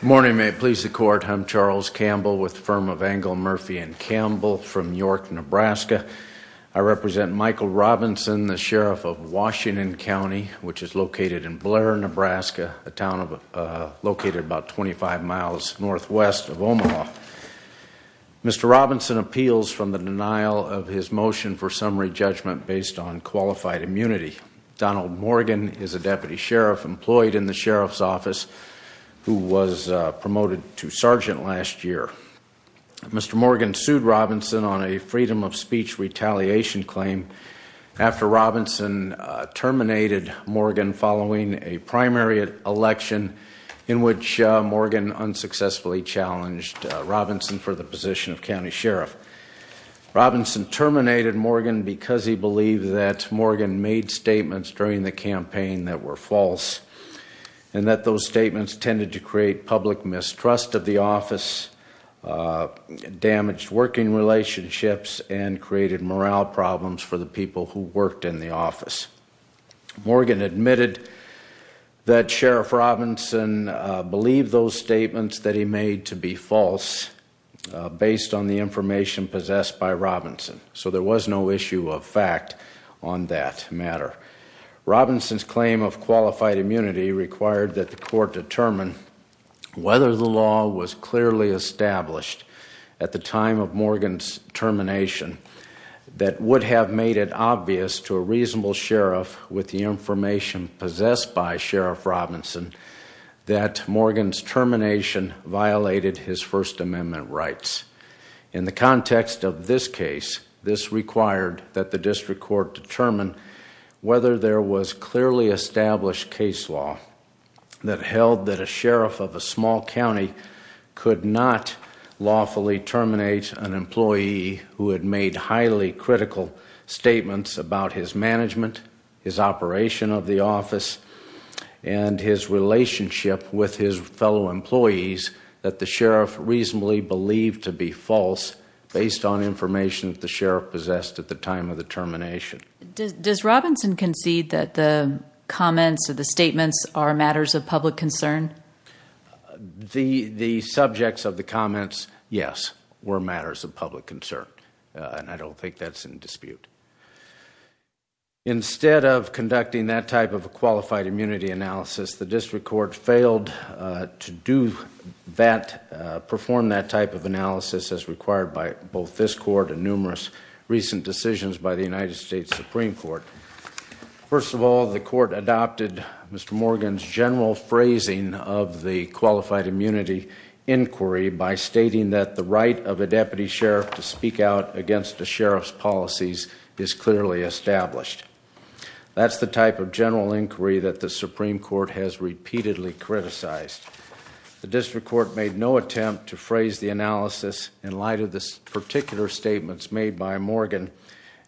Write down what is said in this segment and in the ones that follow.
Good morning. May it please the Court, I'm Charles Campbell with the firm of Engel, Murphy & Campbell from York, Nebraska. I represent Michael Robinson, the Sheriff of Washington County, which is located in Blair, Nebraska, a town located about 25 miles northwest of Omaha. Mr. Robinson appeals from the denial of his motion for summary judgment based on qualified immunity. Donald Morgan is a Deputy Sheriff employed in the Sheriff's Office who was promoted to Sergeant last year. Mr. Morgan sued Robinson on a freedom of speech retaliation claim after Robinson terminated Morgan following a primary election in which Morgan unsuccessfully challenged Robinson for the position of County Sheriff. Robinson terminated Morgan because he believed that Morgan made statements during the campaign that were false and that those statements tended to create public mistrust of the office, damaged working relationships, and created morale problems for the people who worked in the office. Morgan admitted that Sheriff Robinson believed those statements that he made to be false based on the information possessed by Robinson, so there was no issue of fact on that matter. Robinson's claim of qualified immunity required that the Court determine whether the law was clearly established at the time of Morgan's termination that would have made it obvious to a reasonable Sheriff with the information possessed by Sheriff Robinson that Morgan's termination violated his First Amendment rights. In the context of this case, this required that the District Court determine whether there was clearly established case law that held that a Sheriff of a small county could not lawfully terminate an employee who had made highly critical statements about his management, his operation of the office, and his relationship with his fellow employees that the Sheriff reasonably believed to be false based on information that the Sheriff possessed at the time of the termination. Does Robinson concede that the comments or the statements are matters of public concern? The subjects of the comments, yes, were matters of public concern, and I don't think that's in dispute. Instead of conducting that type of a qualified immunity analysis, the District Court failed to do that, perform that type of analysis as required by both this Court and numerous recent decisions by the United States Supreme Court. First of all, the Court adopted Mr. Morgan's general phrasing of the qualified immunity inquiry by stating that the right of a Deputy Sheriff to speak out against a Sheriff's policies is clearly established. That's the type of general inquiry that the Supreme Court has repeatedly criticized. The District Court made no attempt to phrase the analysis in light of the particular statements made by Morgan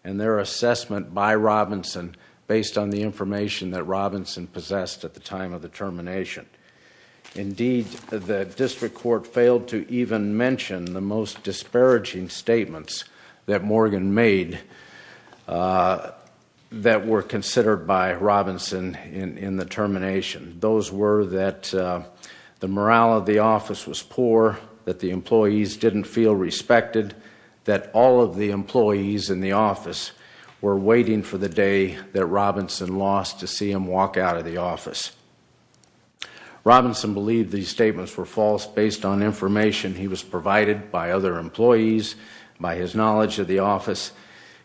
and their assessment by Robinson based on the information that Robinson possessed at the time of the termination. Indeed, the District Court failed to even mention the most disparaging statements that Morgan made that were considered by Robinson in the termination. Those were that the morale of the office was poor, that the employees didn't feel respected, that all of the employees in the office were waiting for the day that Robinson lost to see him walk out of the office. Robinson believed these statements were false based on information he was provided by other employees, by his knowledge of the office,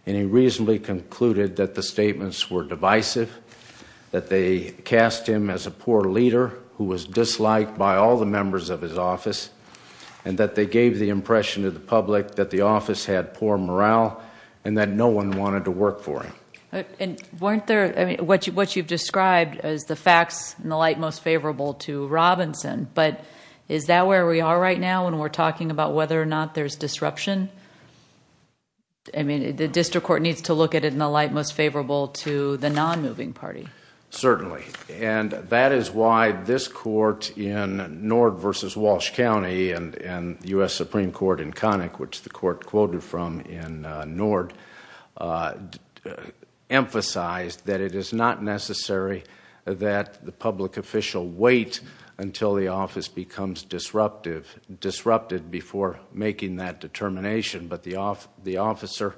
and he reasonably concluded that the statements were divisive, that they cast him as a poor leader who was disliked by all the members of his office, and that they gave the impression to the public that the office had poor morale and that no one wanted to work for him. What you've described as the facts in the light most favorable to Robinson, but is that where we are right now when we're talking about whether or not there's disruption? I mean, the District Court needs to look at it in the light most favorable to the non-moving party. Certainly, and that is why this court in Nord v. Walsh County and the U.S. Supreme Court in Connick, which the court quoted from in Nord, emphasized that it is not necessary that the public official wait until the office becomes disrupted before making that determination, but the officer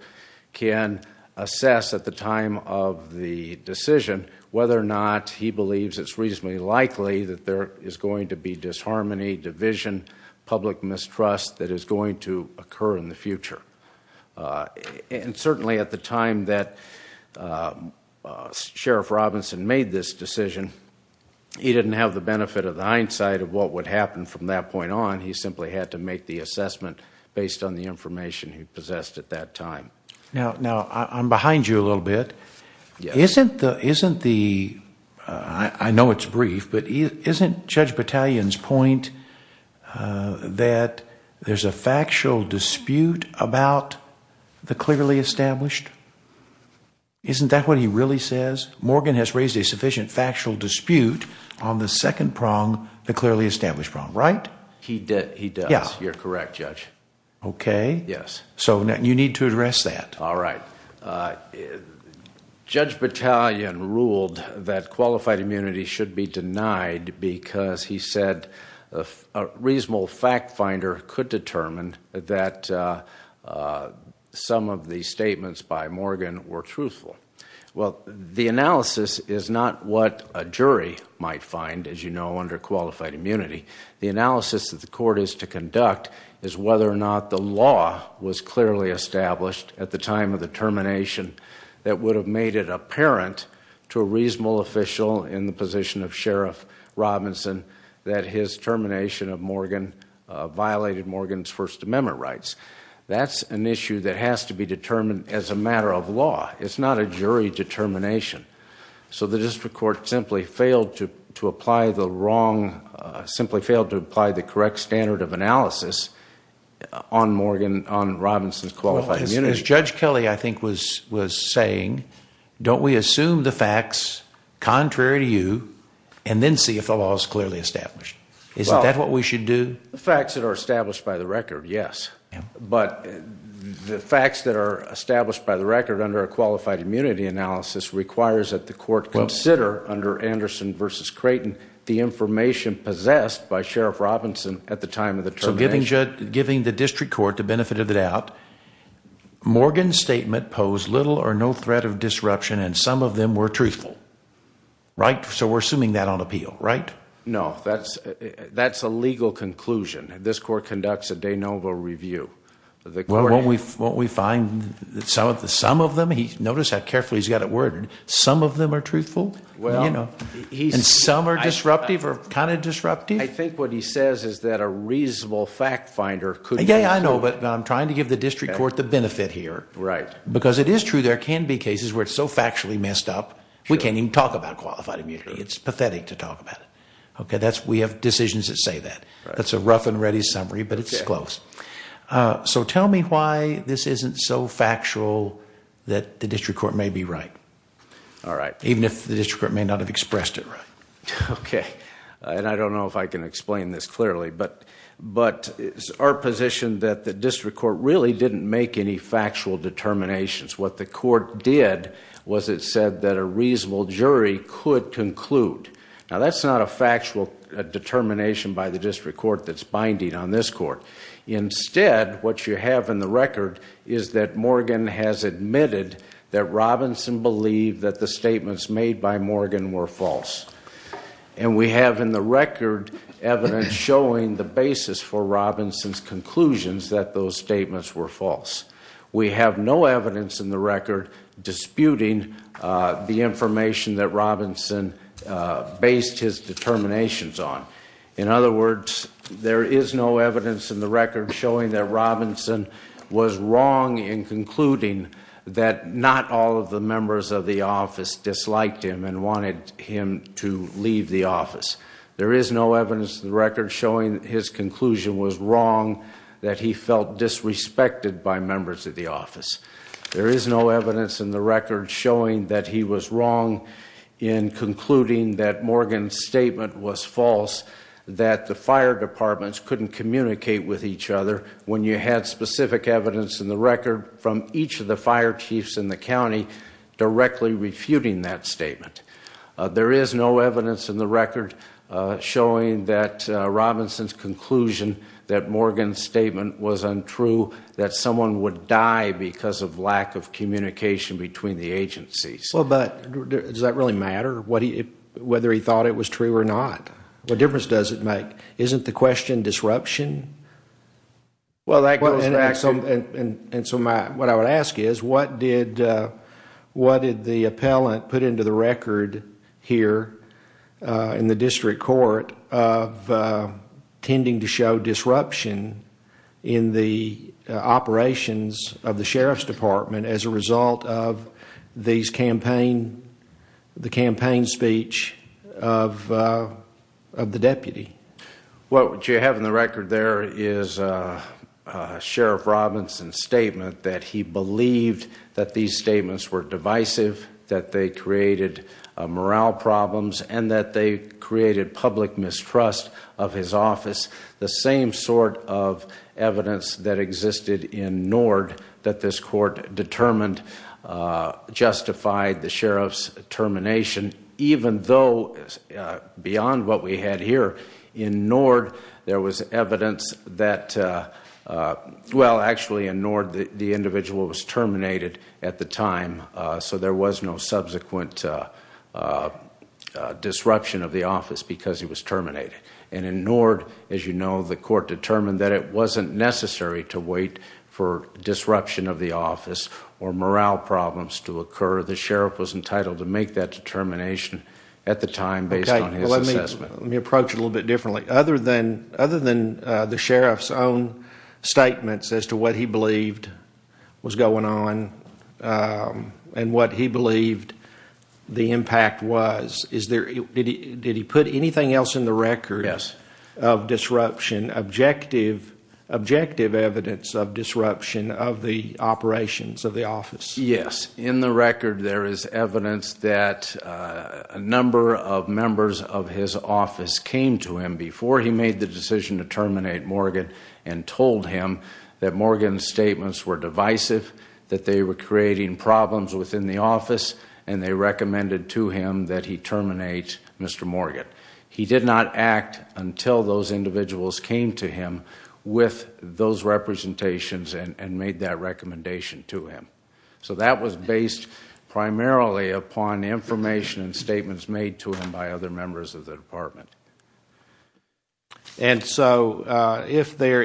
can assess at the time of the decision whether or not he believes it's reasonably likely that there is going to be disharmony, division, public mistrust that is going to occur in the future. Certainly, at the time that Sheriff Robinson made this decision, he didn't have the benefit of the hindsight of what would happen from that point on. He simply had to make the assessment based on the information he possessed at that time. Now, I'm behind you a little bit. I know it's brief, but isn't Judge Battalion's point that there's a factual dispute about the clearly established? Isn't that what he really says? Morgan has raised a sufficient factual dispute on the second prong, the clearly established prong, right? He does. You're correct, Judge. Okay. So you need to address that. All right. Judge Battalion ruled that qualified immunity should be denied because he said a reasonable fact finder could determine that some of the statements by Morgan were truthful. Well, the analysis is not what a jury might find, as you know, under qualified immunity. The analysis that the court is to conduct is whether or not the law was clearly established at the time of the termination that would have made it apparent to a reasonable official in the position of Sheriff Robinson that his termination of Morgan violated Morgan's First Amendment rights. That's an issue that has to be determined as a matter of law. It's not a jury determination. So the district court simply failed to apply the correct standard of analysis on Robinson's qualified immunity. As Judge Kelly, I think, was saying, don't we assume the facts contrary to you and then see if the law is clearly established? Isn't that what we should do? The facts that are established by the record, yes. But the facts that are established by the record under a qualified immunity analysis requires that the court consider under Anderson v. Creighton the information possessed by Sheriff Robinson at the time of the termination. So giving the district court the benefit of the doubt, Morgan's statement posed little or no threat of disruption and some of them were truthful, right? So we're assuming that on appeal, right? No, that's a legal conclusion. This court conducts a de novo review. Won't we find that some of them, notice how carefully he's got it worded, some of them are truthful and some are disruptive or kind of disruptive? I think what he says is that a reasonable fact finder could be. Yeah, I know, but I'm trying to give the district court the benefit here. Right. Because it is true there can be cases where it's so factually messed up we can't even talk about qualified immunity. It's pathetic to talk about it. We have decisions that say that. That's a rough and ready summary, but it's close. So tell me why this isn't so factual that the district court may be right. All right. Even if the district court may not have expressed it right. Okay. I don't know if I can explain this clearly, but our position that the district court really didn't make any factual determinations. What the court did was it said that a reasonable jury could conclude. Now, that's not a factual determination by the district court that's binding on this court. Instead, what you have in the record is that Morgan has admitted that Robinson believed that the statements made by Morgan were false. And we have in the record evidence showing the basis for Robinson's conclusions that those statements were false. We have no evidence in the record disputing the information that Robinson based his determinations on. In other words, there is no evidence in the record showing that Robinson was wrong in concluding that not all of the members of the office disliked him and wanted him to leave the office. There is no evidence in the record showing his conclusion was wrong, that he felt disrespected by members of the office. There is no evidence in the record showing that he was wrong in concluding that Morgan's statement was false, that the fire departments couldn't communicate with each other when you had specific evidence in the record from each of the fire chiefs in the county directly refuting that statement. There is no evidence in the record showing that Robinson's conclusion that Morgan's statement was untrue, that someone would die because of lack of communication between the agencies. Does that really matter, whether he thought it was true or not? What difference does it make? Isn't the question disruption? What I would ask is what did the appellant put into the record here in the district court of tending to show disruption in the operations of the sheriff's department as a result of the campaign speech of the deputy? What you have in the record there is a Sheriff Robinson statement that he believed that these statements were divisive, that they created morale problems and that they created public mistrust of his office. The same sort of evidence that existed in Nord that this court determined justified the sheriff's termination, even though beyond what we had here in Nord there was evidence that, well actually in Nord the individual was terminated at the time, so there was no subsequent disruption of the office because he was terminated. In Nord, as you know, the court determined that it wasn't necessary to wait for disruption of the office or morale problems to occur. The sheriff was entitled to make that determination at the time based on his assessment. Let me approach it a little bit differently. Other than the sheriff's own statements as to what he believed was going on and what he believed the impact was, did he put anything else in the record of disruption, objective evidence of disruption of the operations of the office? Yes. In the record there is evidence that a number of members of his office came to him before he made the decision to terminate Morgan and told him that Morgan's statements were divisive, that they were creating problems within the office, and they recommended to him that he terminate Mr. Morgan. He did not act until those individuals came to him with those representations and made that recommendation to him. So that was based primarily upon information and statements made to him by other members of the department. And so if there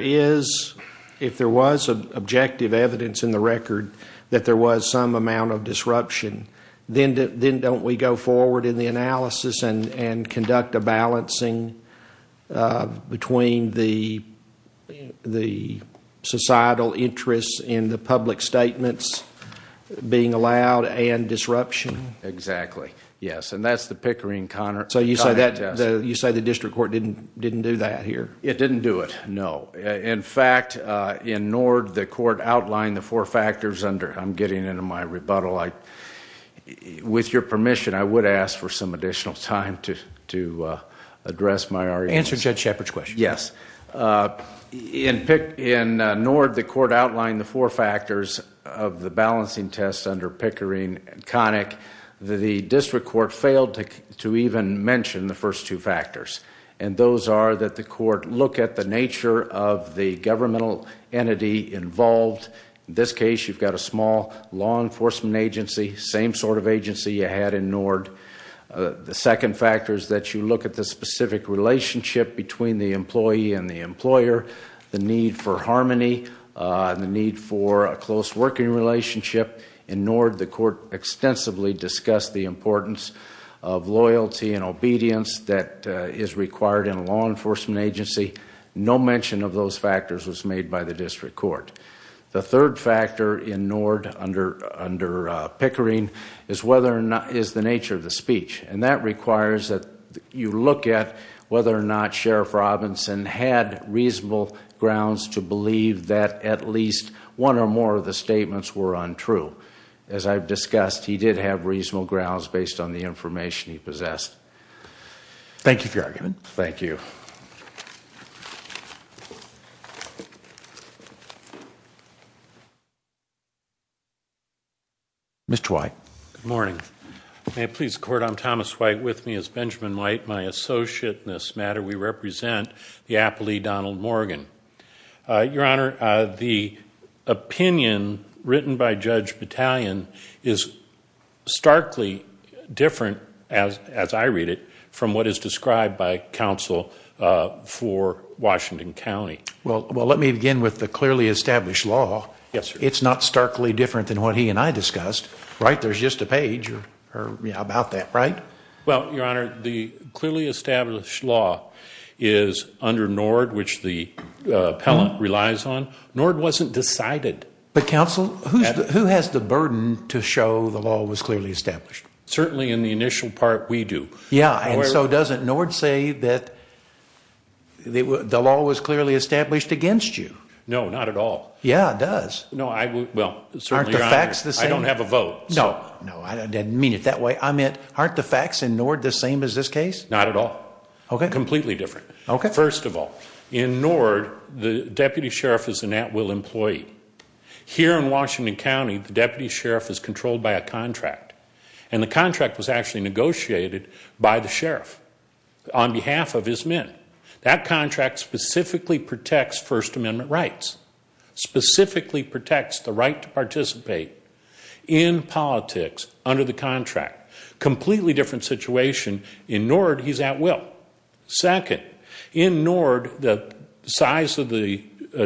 was objective evidence in the record that there was some amount of disruption, then don't we go forward in the analysis and conduct a balancing between the societal interests in the public statements being allowed and disruption? Exactly, yes. And that's the Pickering-Conner test. So you say the district court didn't do that here? It didn't do it, no. In fact, in Nord, the court outlined the four factors under— I'm getting into my rebuttal. With your permission, I would ask for some additional time to address my arguments. Answer Judge Shepard's question. Yes. In Nord, the court outlined the four factors of the balancing test under Pickering-Conner. In fact, the district court failed to even mention the first two factors, and those are that the court look at the nature of the governmental entity involved. In this case, you've got a small law enforcement agency, same sort of agency you had in Nord. The second factor is that you look at the specific relationship between the employee and the employer, the need for harmony, the need for a close working relationship. In Nord, the court extensively discussed the importance of loyalty and obedience that is required in a law enforcement agency. No mention of those factors was made by the district court. The third factor in Nord under Pickering is the nature of the speech, and that requires that you look at whether or not Sheriff Robinson had reasonable grounds to believe that at least one or more of the statements were untrue. As I've discussed, he did have reasonable grounds based on the information he possessed. Thank you for your argument. Thank you. Mr. White. Good morning. May it please the Court, I'm Thomas White. With me is Benjamin White, my associate in this matter. We represent the appellee, Donald Morgan. Your Honor, the opinion written by Judge Battalion is starkly different, as I read it, from what is described by counsel for Washington County. Well, let me begin with the clearly established law. It's not starkly different than what he and I discussed, right? There's just a page about that, right? Well, Your Honor, the clearly established law is under Nord, which the appellant relies on. Nord wasn't decided. But, counsel, who has the burden to show the law was clearly established? Certainly in the initial part, we do. Yeah, and so doesn't Nord say that the law was clearly established against you? No, not at all. Yeah, it does. Well, certainly, Your Honor, I don't have a vote. No, no, I didn't mean it that way. I meant, aren't the facts in Nord the same as this case? Not at all. Okay. Completely different. Okay. First of all, in Nord, the deputy sheriff is an at-will employee. Here in Washington County, the deputy sheriff is controlled by a contract, and the contract was actually negotiated by the sheriff on behalf of his men. That contract specifically protects First Amendment rights, specifically protects the right to participate in politics under the contract. Completely different situation. In Nord, he's at-will. Second, in Nord, the size of the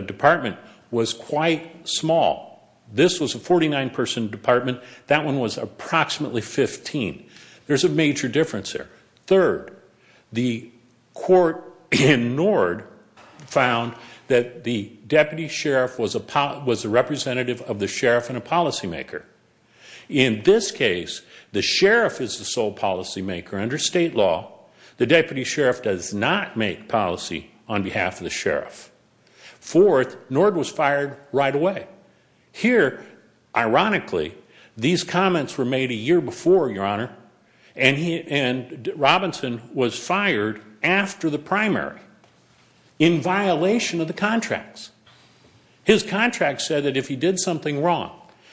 department was quite small. This was a 49-person department. That one was approximately 15. There's a major difference there. Third, the court in Nord found that the deputy sheriff was a representative of the sheriff and a policymaker. In this case, the sheriff is the sole policymaker under state law. The deputy sheriff does not make policy on behalf of the sheriff. Fourth, Nord was fired right away. Here, ironically, these comments were made a year before, Your Honor, and Robinson was fired after the primary in violation of the contracts. His contract said that if he did something wrong,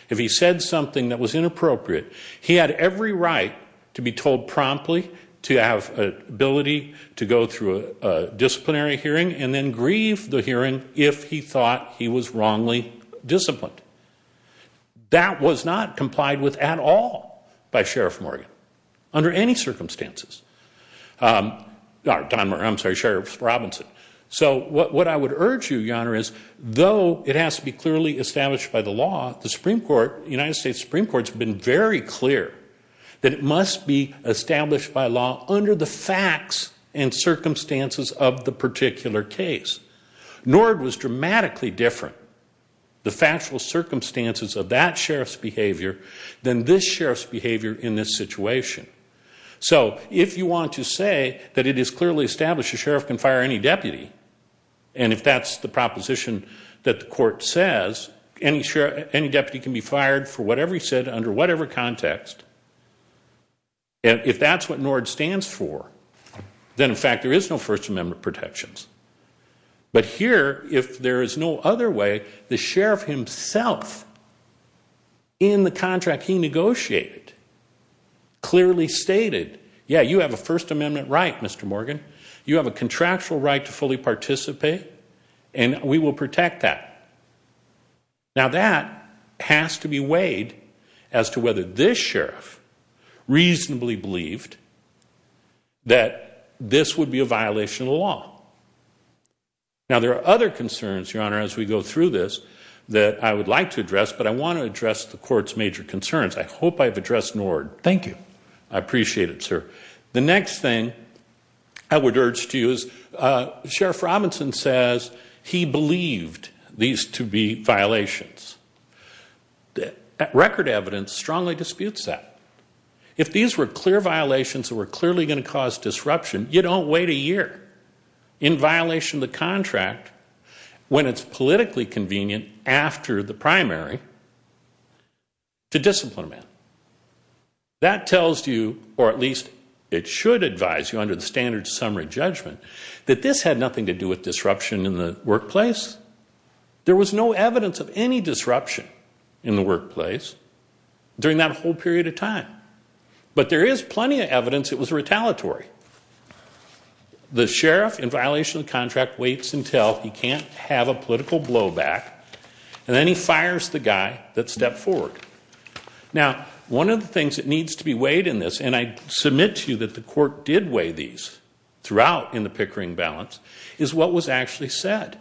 if he said something that was inappropriate, he had every right to be told promptly to have ability to go through a disciplinary hearing and then grieve the hearing if he thought he was wrongly disciplined. That was not complied with at all by Sheriff Robinson. So what I would urge you, Your Honor, is though it has to be clearly established by the law, the United States Supreme Court has been very clear that it must be established by law under the facts and circumstances of the particular case. Nord was dramatically different. The factual circumstances of that sheriff's behavior than this sheriff's behavior in this situation. So if you want to say that it is clearly established a sheriff can fire any deputy, and if that's the proposition that the court says, any deputy can be fired for whatever he said under whatever context, if that's what Nord stands for, then, in fact, there is no First Amendment protections. But here, if there is no other way, the sheriff himself, in the contract he negotiated, clearly stated, yeah, you have a First Amendment right, Mr. Morgan. You have a contractual right to fully participate, and we will protect that. Now, that has to be weighed as to whether this sheriff reasonably believed that this would be a violation of the law. Now, there are other concerns, Your Honor, as we go through this that I would like to address, but I want to address the court's major concerns. I hope I've addressed Nord. Thank you. I appreciate it, sir. The next thing I would urge to you is Sheriff Robinson says he believed these to be violations. Record evidence strongly disputes that. If these were clear violations that were clearly going to cause disruption, you don't wait a year in violation of the contract when it's politically convenient after the primary to discipline a man. That tells you, or at least it should advise you under the standard summary judgment, that this had nothing to do with disruption in the workplace. There was no evidence of any disruption in the workplace during that whole period of time, but there is plenty of evidence it was retaliatory. The sheriff in violation of the contract waits until he can't have a political blowback, and then he fires the guy that stepped forward. Now, one of the things that needs to be weighed in this, and I submit to you that the court did weigh these throughout in the Pickering balance, is what was actually said.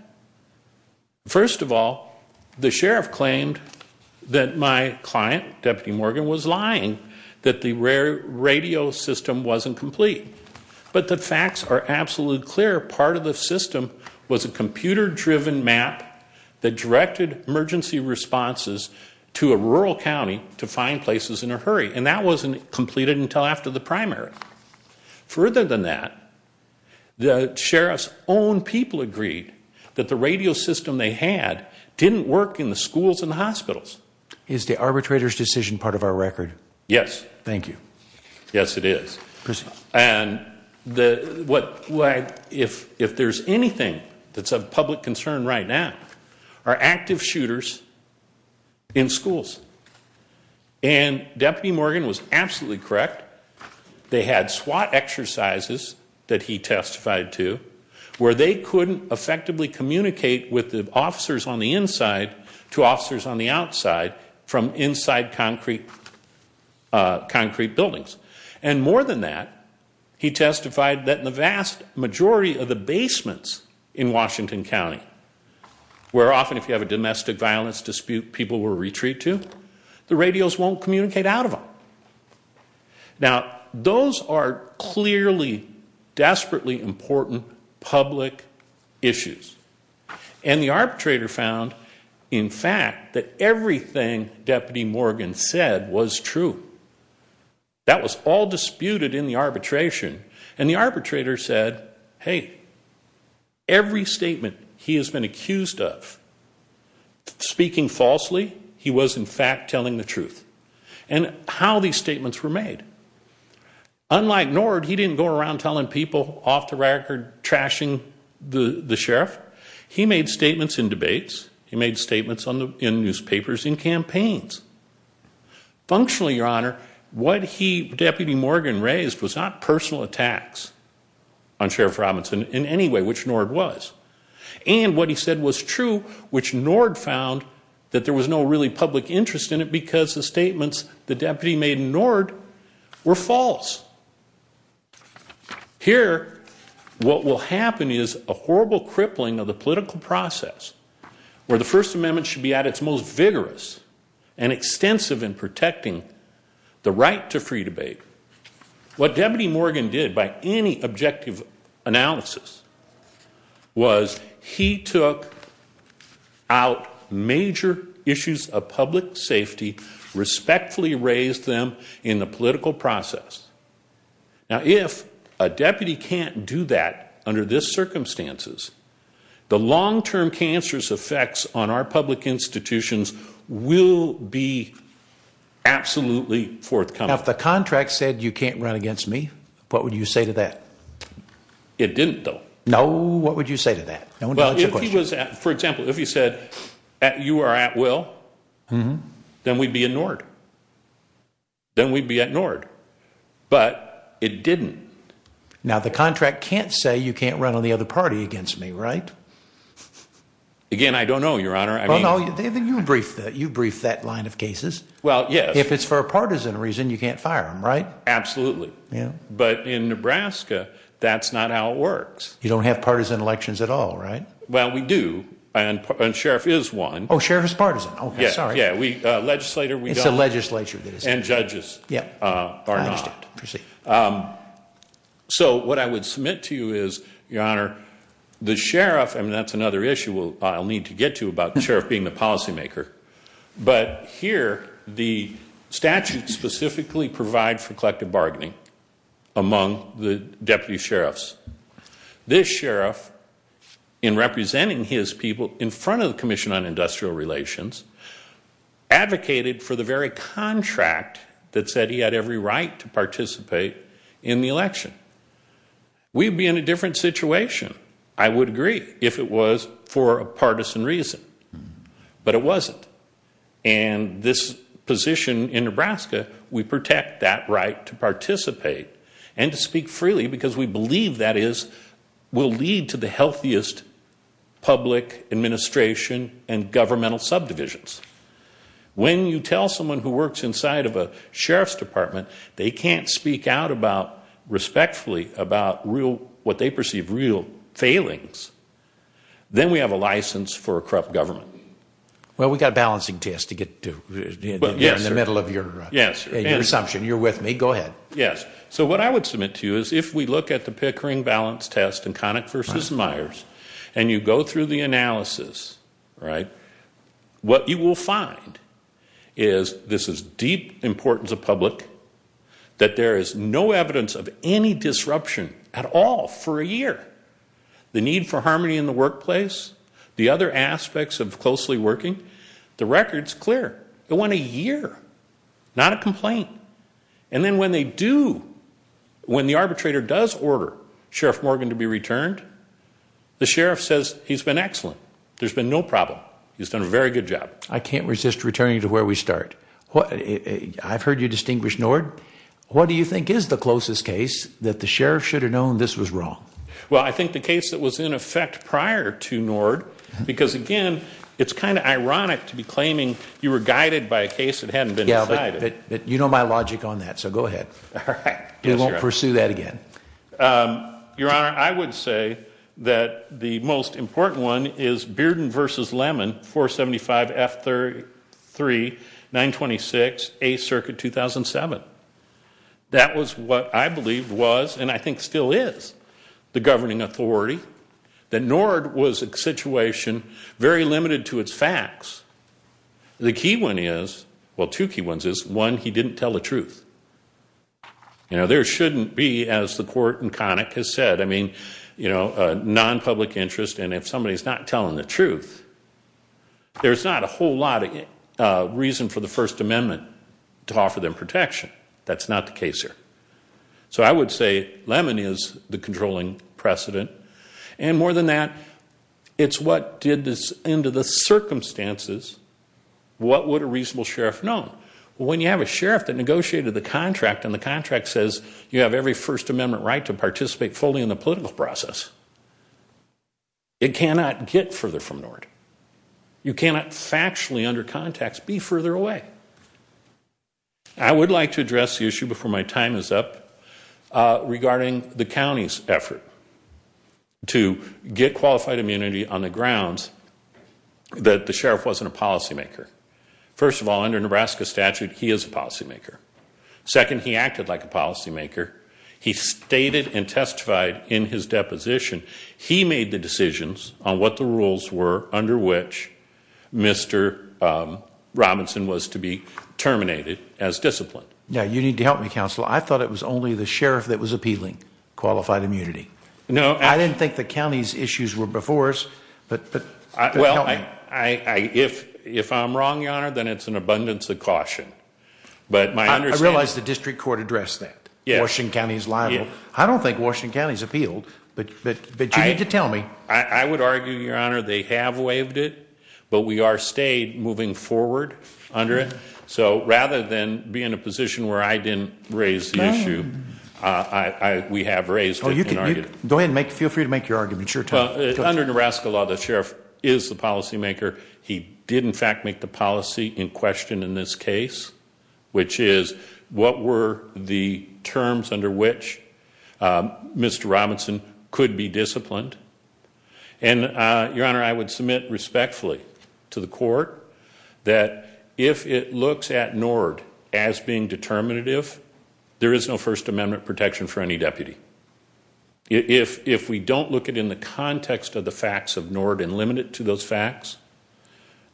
First of all, the sheriff claimed that my client, Deputy Morgan, was lying that the radio system wasn't complete, but the facts are absolutely clear. Part of the system was a computer-driven map that directed emergency responses to a rural county to find places in a hurry, and that wasn't completed until after the primary. Further than that, the sheriff's own people agreed that the radio system they had didn't work in the schools and the hospitals. Is the arbitrator's decision part of our record? Yes. Thank you. Yes, it is. And if there's anything that's of public concern right now are active shooters in schools. And Deputy Morgan was absolutely correct. They had SWAT exercises that he testified to, where they couldn't effectively communicate with the officers on the inside to officers on the outside from inside concrete buildings. And more than that, he testified that in the vast majority of the basements in Washington County, where often if you have a domestic violence dispute, people will retreat to, the radios won't communicate out of them. Now, those are clearly desperately important public issues. And the arbitrator found, in fact, that everything Deputy Morgan said was true. That was all disputed in the arbitration, and the arbitrator said, hey, every statement he has been accused of, speaking falsely, he was in fact telling the truth. And how these statements were made. Unlike Nord, he didn't go around telling people off the record, trashing the sheriff. He made statements in debates. He made statements in newspapers, in campaigns. Functionally, Your Honor, what Deputy Morgan raised was not personal attacks on Sheriff Robinson in any way, which Nord was. And what he said was true, which Nord found that there was no really public interest in it because the statements the deputy made in Nord were false. Here, what will happen is a horrible crippling of the political process, where the First Amendment should be at its most vigorous and extensive in protecting the right to free debate. What Deputy Morgan did, by any objective analysis, was he took out major issues of public safety, respectfully raised them in the political process. Now, if a deputy can't do that under this circumstances, the long-term cancerous effects on our public institutions will be absolutely forthcoming. Now, if the contract said you can't run against me, what would you say to that? It didn't, though. No, what would you say to that? For example, if he said you are at will, then we'd be in Nord. Then we'd be at Nord. But it didn't. Now, the contract can't say you can't run on the other party against me, right? Again, I don't know, Your Honor. Well, no, you briefed that line of cases. Well, yes. If it's for a partisan reason, you can't fire him, right? Absolutely. But in Nebraska, that's not how it works. You don't have partisan elections at all, right? Well, we do, and Sheriff is one. Oh, Sheriff is partisan. Okay, sorry. It's a legislature. And judges are not. I understand. Proceed. So what I would submit to you is, Your Honor, the Sheriff, and that's another issue I'll need to get to about the Sheriff being the policymaker, but here the statute specifically provides for collective bargaining among the deputy sheriffs. This sheriff, in representing his people in front of the Commission on Industrial Relations, advocated for the very contract that said he had every right to participate in the election. We'd be in a different situation, I would agree, if it was for a partisan reason. But it wasn't. And this position in Nebraska, we protect that right to participate and to speak freely because we believe that will lead to the healthiest public administration and governmental subdivisions. When you tell someone who works inside of a sheriff's department they can't speak out respectfully about what they perceive real failings, then we have a license for a corrupt government. Well, we've got a balancing test to get to in the middle of your assumption. You're with me. Go ahead. Yes. So what I would submit to you is if we look at the Pickering Balance Test and Connick v. Myers and you go through the analysis, what you will find is this is deep importance of public, that there is no evidence of any disruption at all for a year. The need for harmony in the workplace, the other aspects of closely working, the record's clear. It went a year. Not a complaint. And then when they do, when the arbitrator does order Sheriff Morgan to be returned, the sheriff says he's been excellent. There's been no problem. He's done a very good job. I can't resist returning to where we start. I've heard you distinguish Nord. What do you think is the closest case that the sheriff should have known this was wrong? Well, I think the case that was in effect prior to Nord because, again, it's kind of ironic to be claiming you were guided by a case that hadn't been decided. Yeah, but you know my logic on that, so go ahead. All right. We won't pursue that again. Your Honor, I would say that the most important one is Bearden v. Lemon, 475F3-926, 8th Circuit, 2007. That was what I believed was and I think still is the governing authority, that Nord was a situation very limited to its facts. The key one is, well, two key ones is, one, he didn't tell the truth. You know, there shouldn't be, as the court in Connick has said, I mean, you know, non-public interest and if somebody's not telling the truth, there's not a whole lot of reason for the First Amendment to offer them protection. That's not the case here. So I would say Lemon is the controlling precedent, and more than that, it's what did this into the circumstances, what would a reasonable sheriff know? Well, when you have a sheriff that negotiated the contract and the contract says you have every First Amendment right to participate fully in the political process, it cannot get further from Nord. You cannot factually under contacts be further away. I would like to address the issue before my time is up regarding the county's effort to get qualified immunity on the grounds that the sheriff wasn't a policymaker. First of all, under Nebraska statute, he is a policymaker. Second, he acted like a policymaker. He stated and testified in his deposition. He made the decisions on what the rules were under which Mr. Robinson was to be terminated as disciplined. Now, you need to help me, Counselor. I thought it was only the sheriff that was appealing qualified immunity. No. I didn't think the county's issues were before us, but help me. Well, if I'm wrong, Your Honor, then it's an abundance of caution. I realize the district court addressed that. Washington County is liable. I don't think Washington County is appealed, but you need to tell me. I would argue, Your Honor, they have waived it, but we are stayed moving forward under it. So rather than be in a position where I didn't raise the issue, we have raised it. Go ahead and feel free to make your argument. Under Nebraska law, the sheriff is the policymaker. He did, in fact, make the policy in question in this case, which is what were the terms under which Mr. Robinson could be disciplined. And, Your Honor, I would submit respectfully to the court that if it looks at NORD as being determinative, there is no First Amendment protection for any deputy. If we don't look at it in the context of the facts of NORD and limit it to those facts,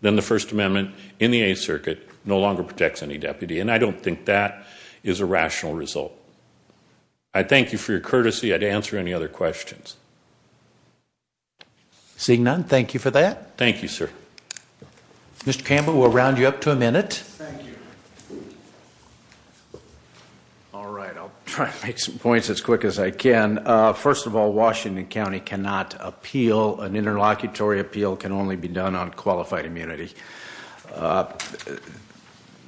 then the First Amendment in the Eighth Circuit no longer protects any deputy, and I don't think that is a rational result. I thank you for your courtesy. I'd answer any other questions. Seeing none, thank you for that. Thank you, sir. Mr. Campbell, we'll round you up to a minute. Thank you. All right, I'll try to make some points as quick as I can. First of all, Washington County cannot appeal. An interlocutory appeal can only be done on qualified immunity. The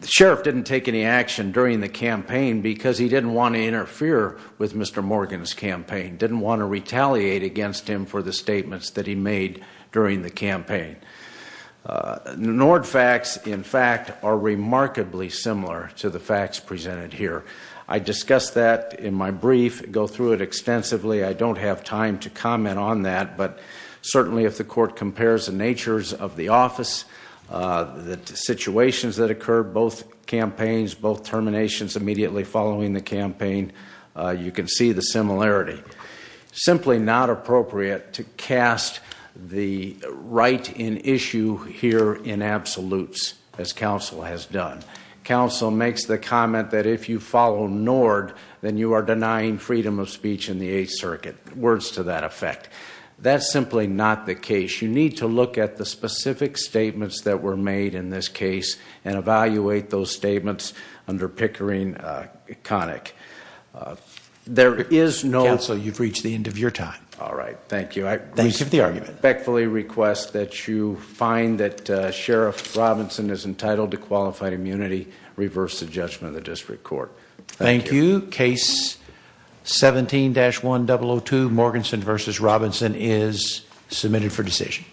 sheriff didn't take any action during the campaign because he didn't want to interfere with Mr. Morgan's campaign, didn't want to retaliate against him for the statements that he made during the campaign. NORD facts, in fact, are remarkably similar to the facts presented here. I discussed that in my brief, go through it extensively. I don't have time to comment on that, but certainly if the court compares the natures of the office, the situations that occurred, both campaigns, both terminations immediately following the campaign, you can see the similarity. Simply not appropriate to cast the right in issue here in absolutes, as counsel has done. Counsel makes the comment that if you follow NORD, then you are denying freedom of speech in the Eighth Circuit. Words to that effect. That's simply not the case. You need to look at the specific statements that were made in this case and evaluate those statements under Pickering-Connick. There is no... Counsel, you've reached the end of your time. All right, thank you. Thank you for the argument. I respectfully request that you find that Sheriff Robinson is entitled to qualified immunity, reverse the judgment of the district court. Thank you. Case 17-1002, Morganson v. Robinson is submitted for decision.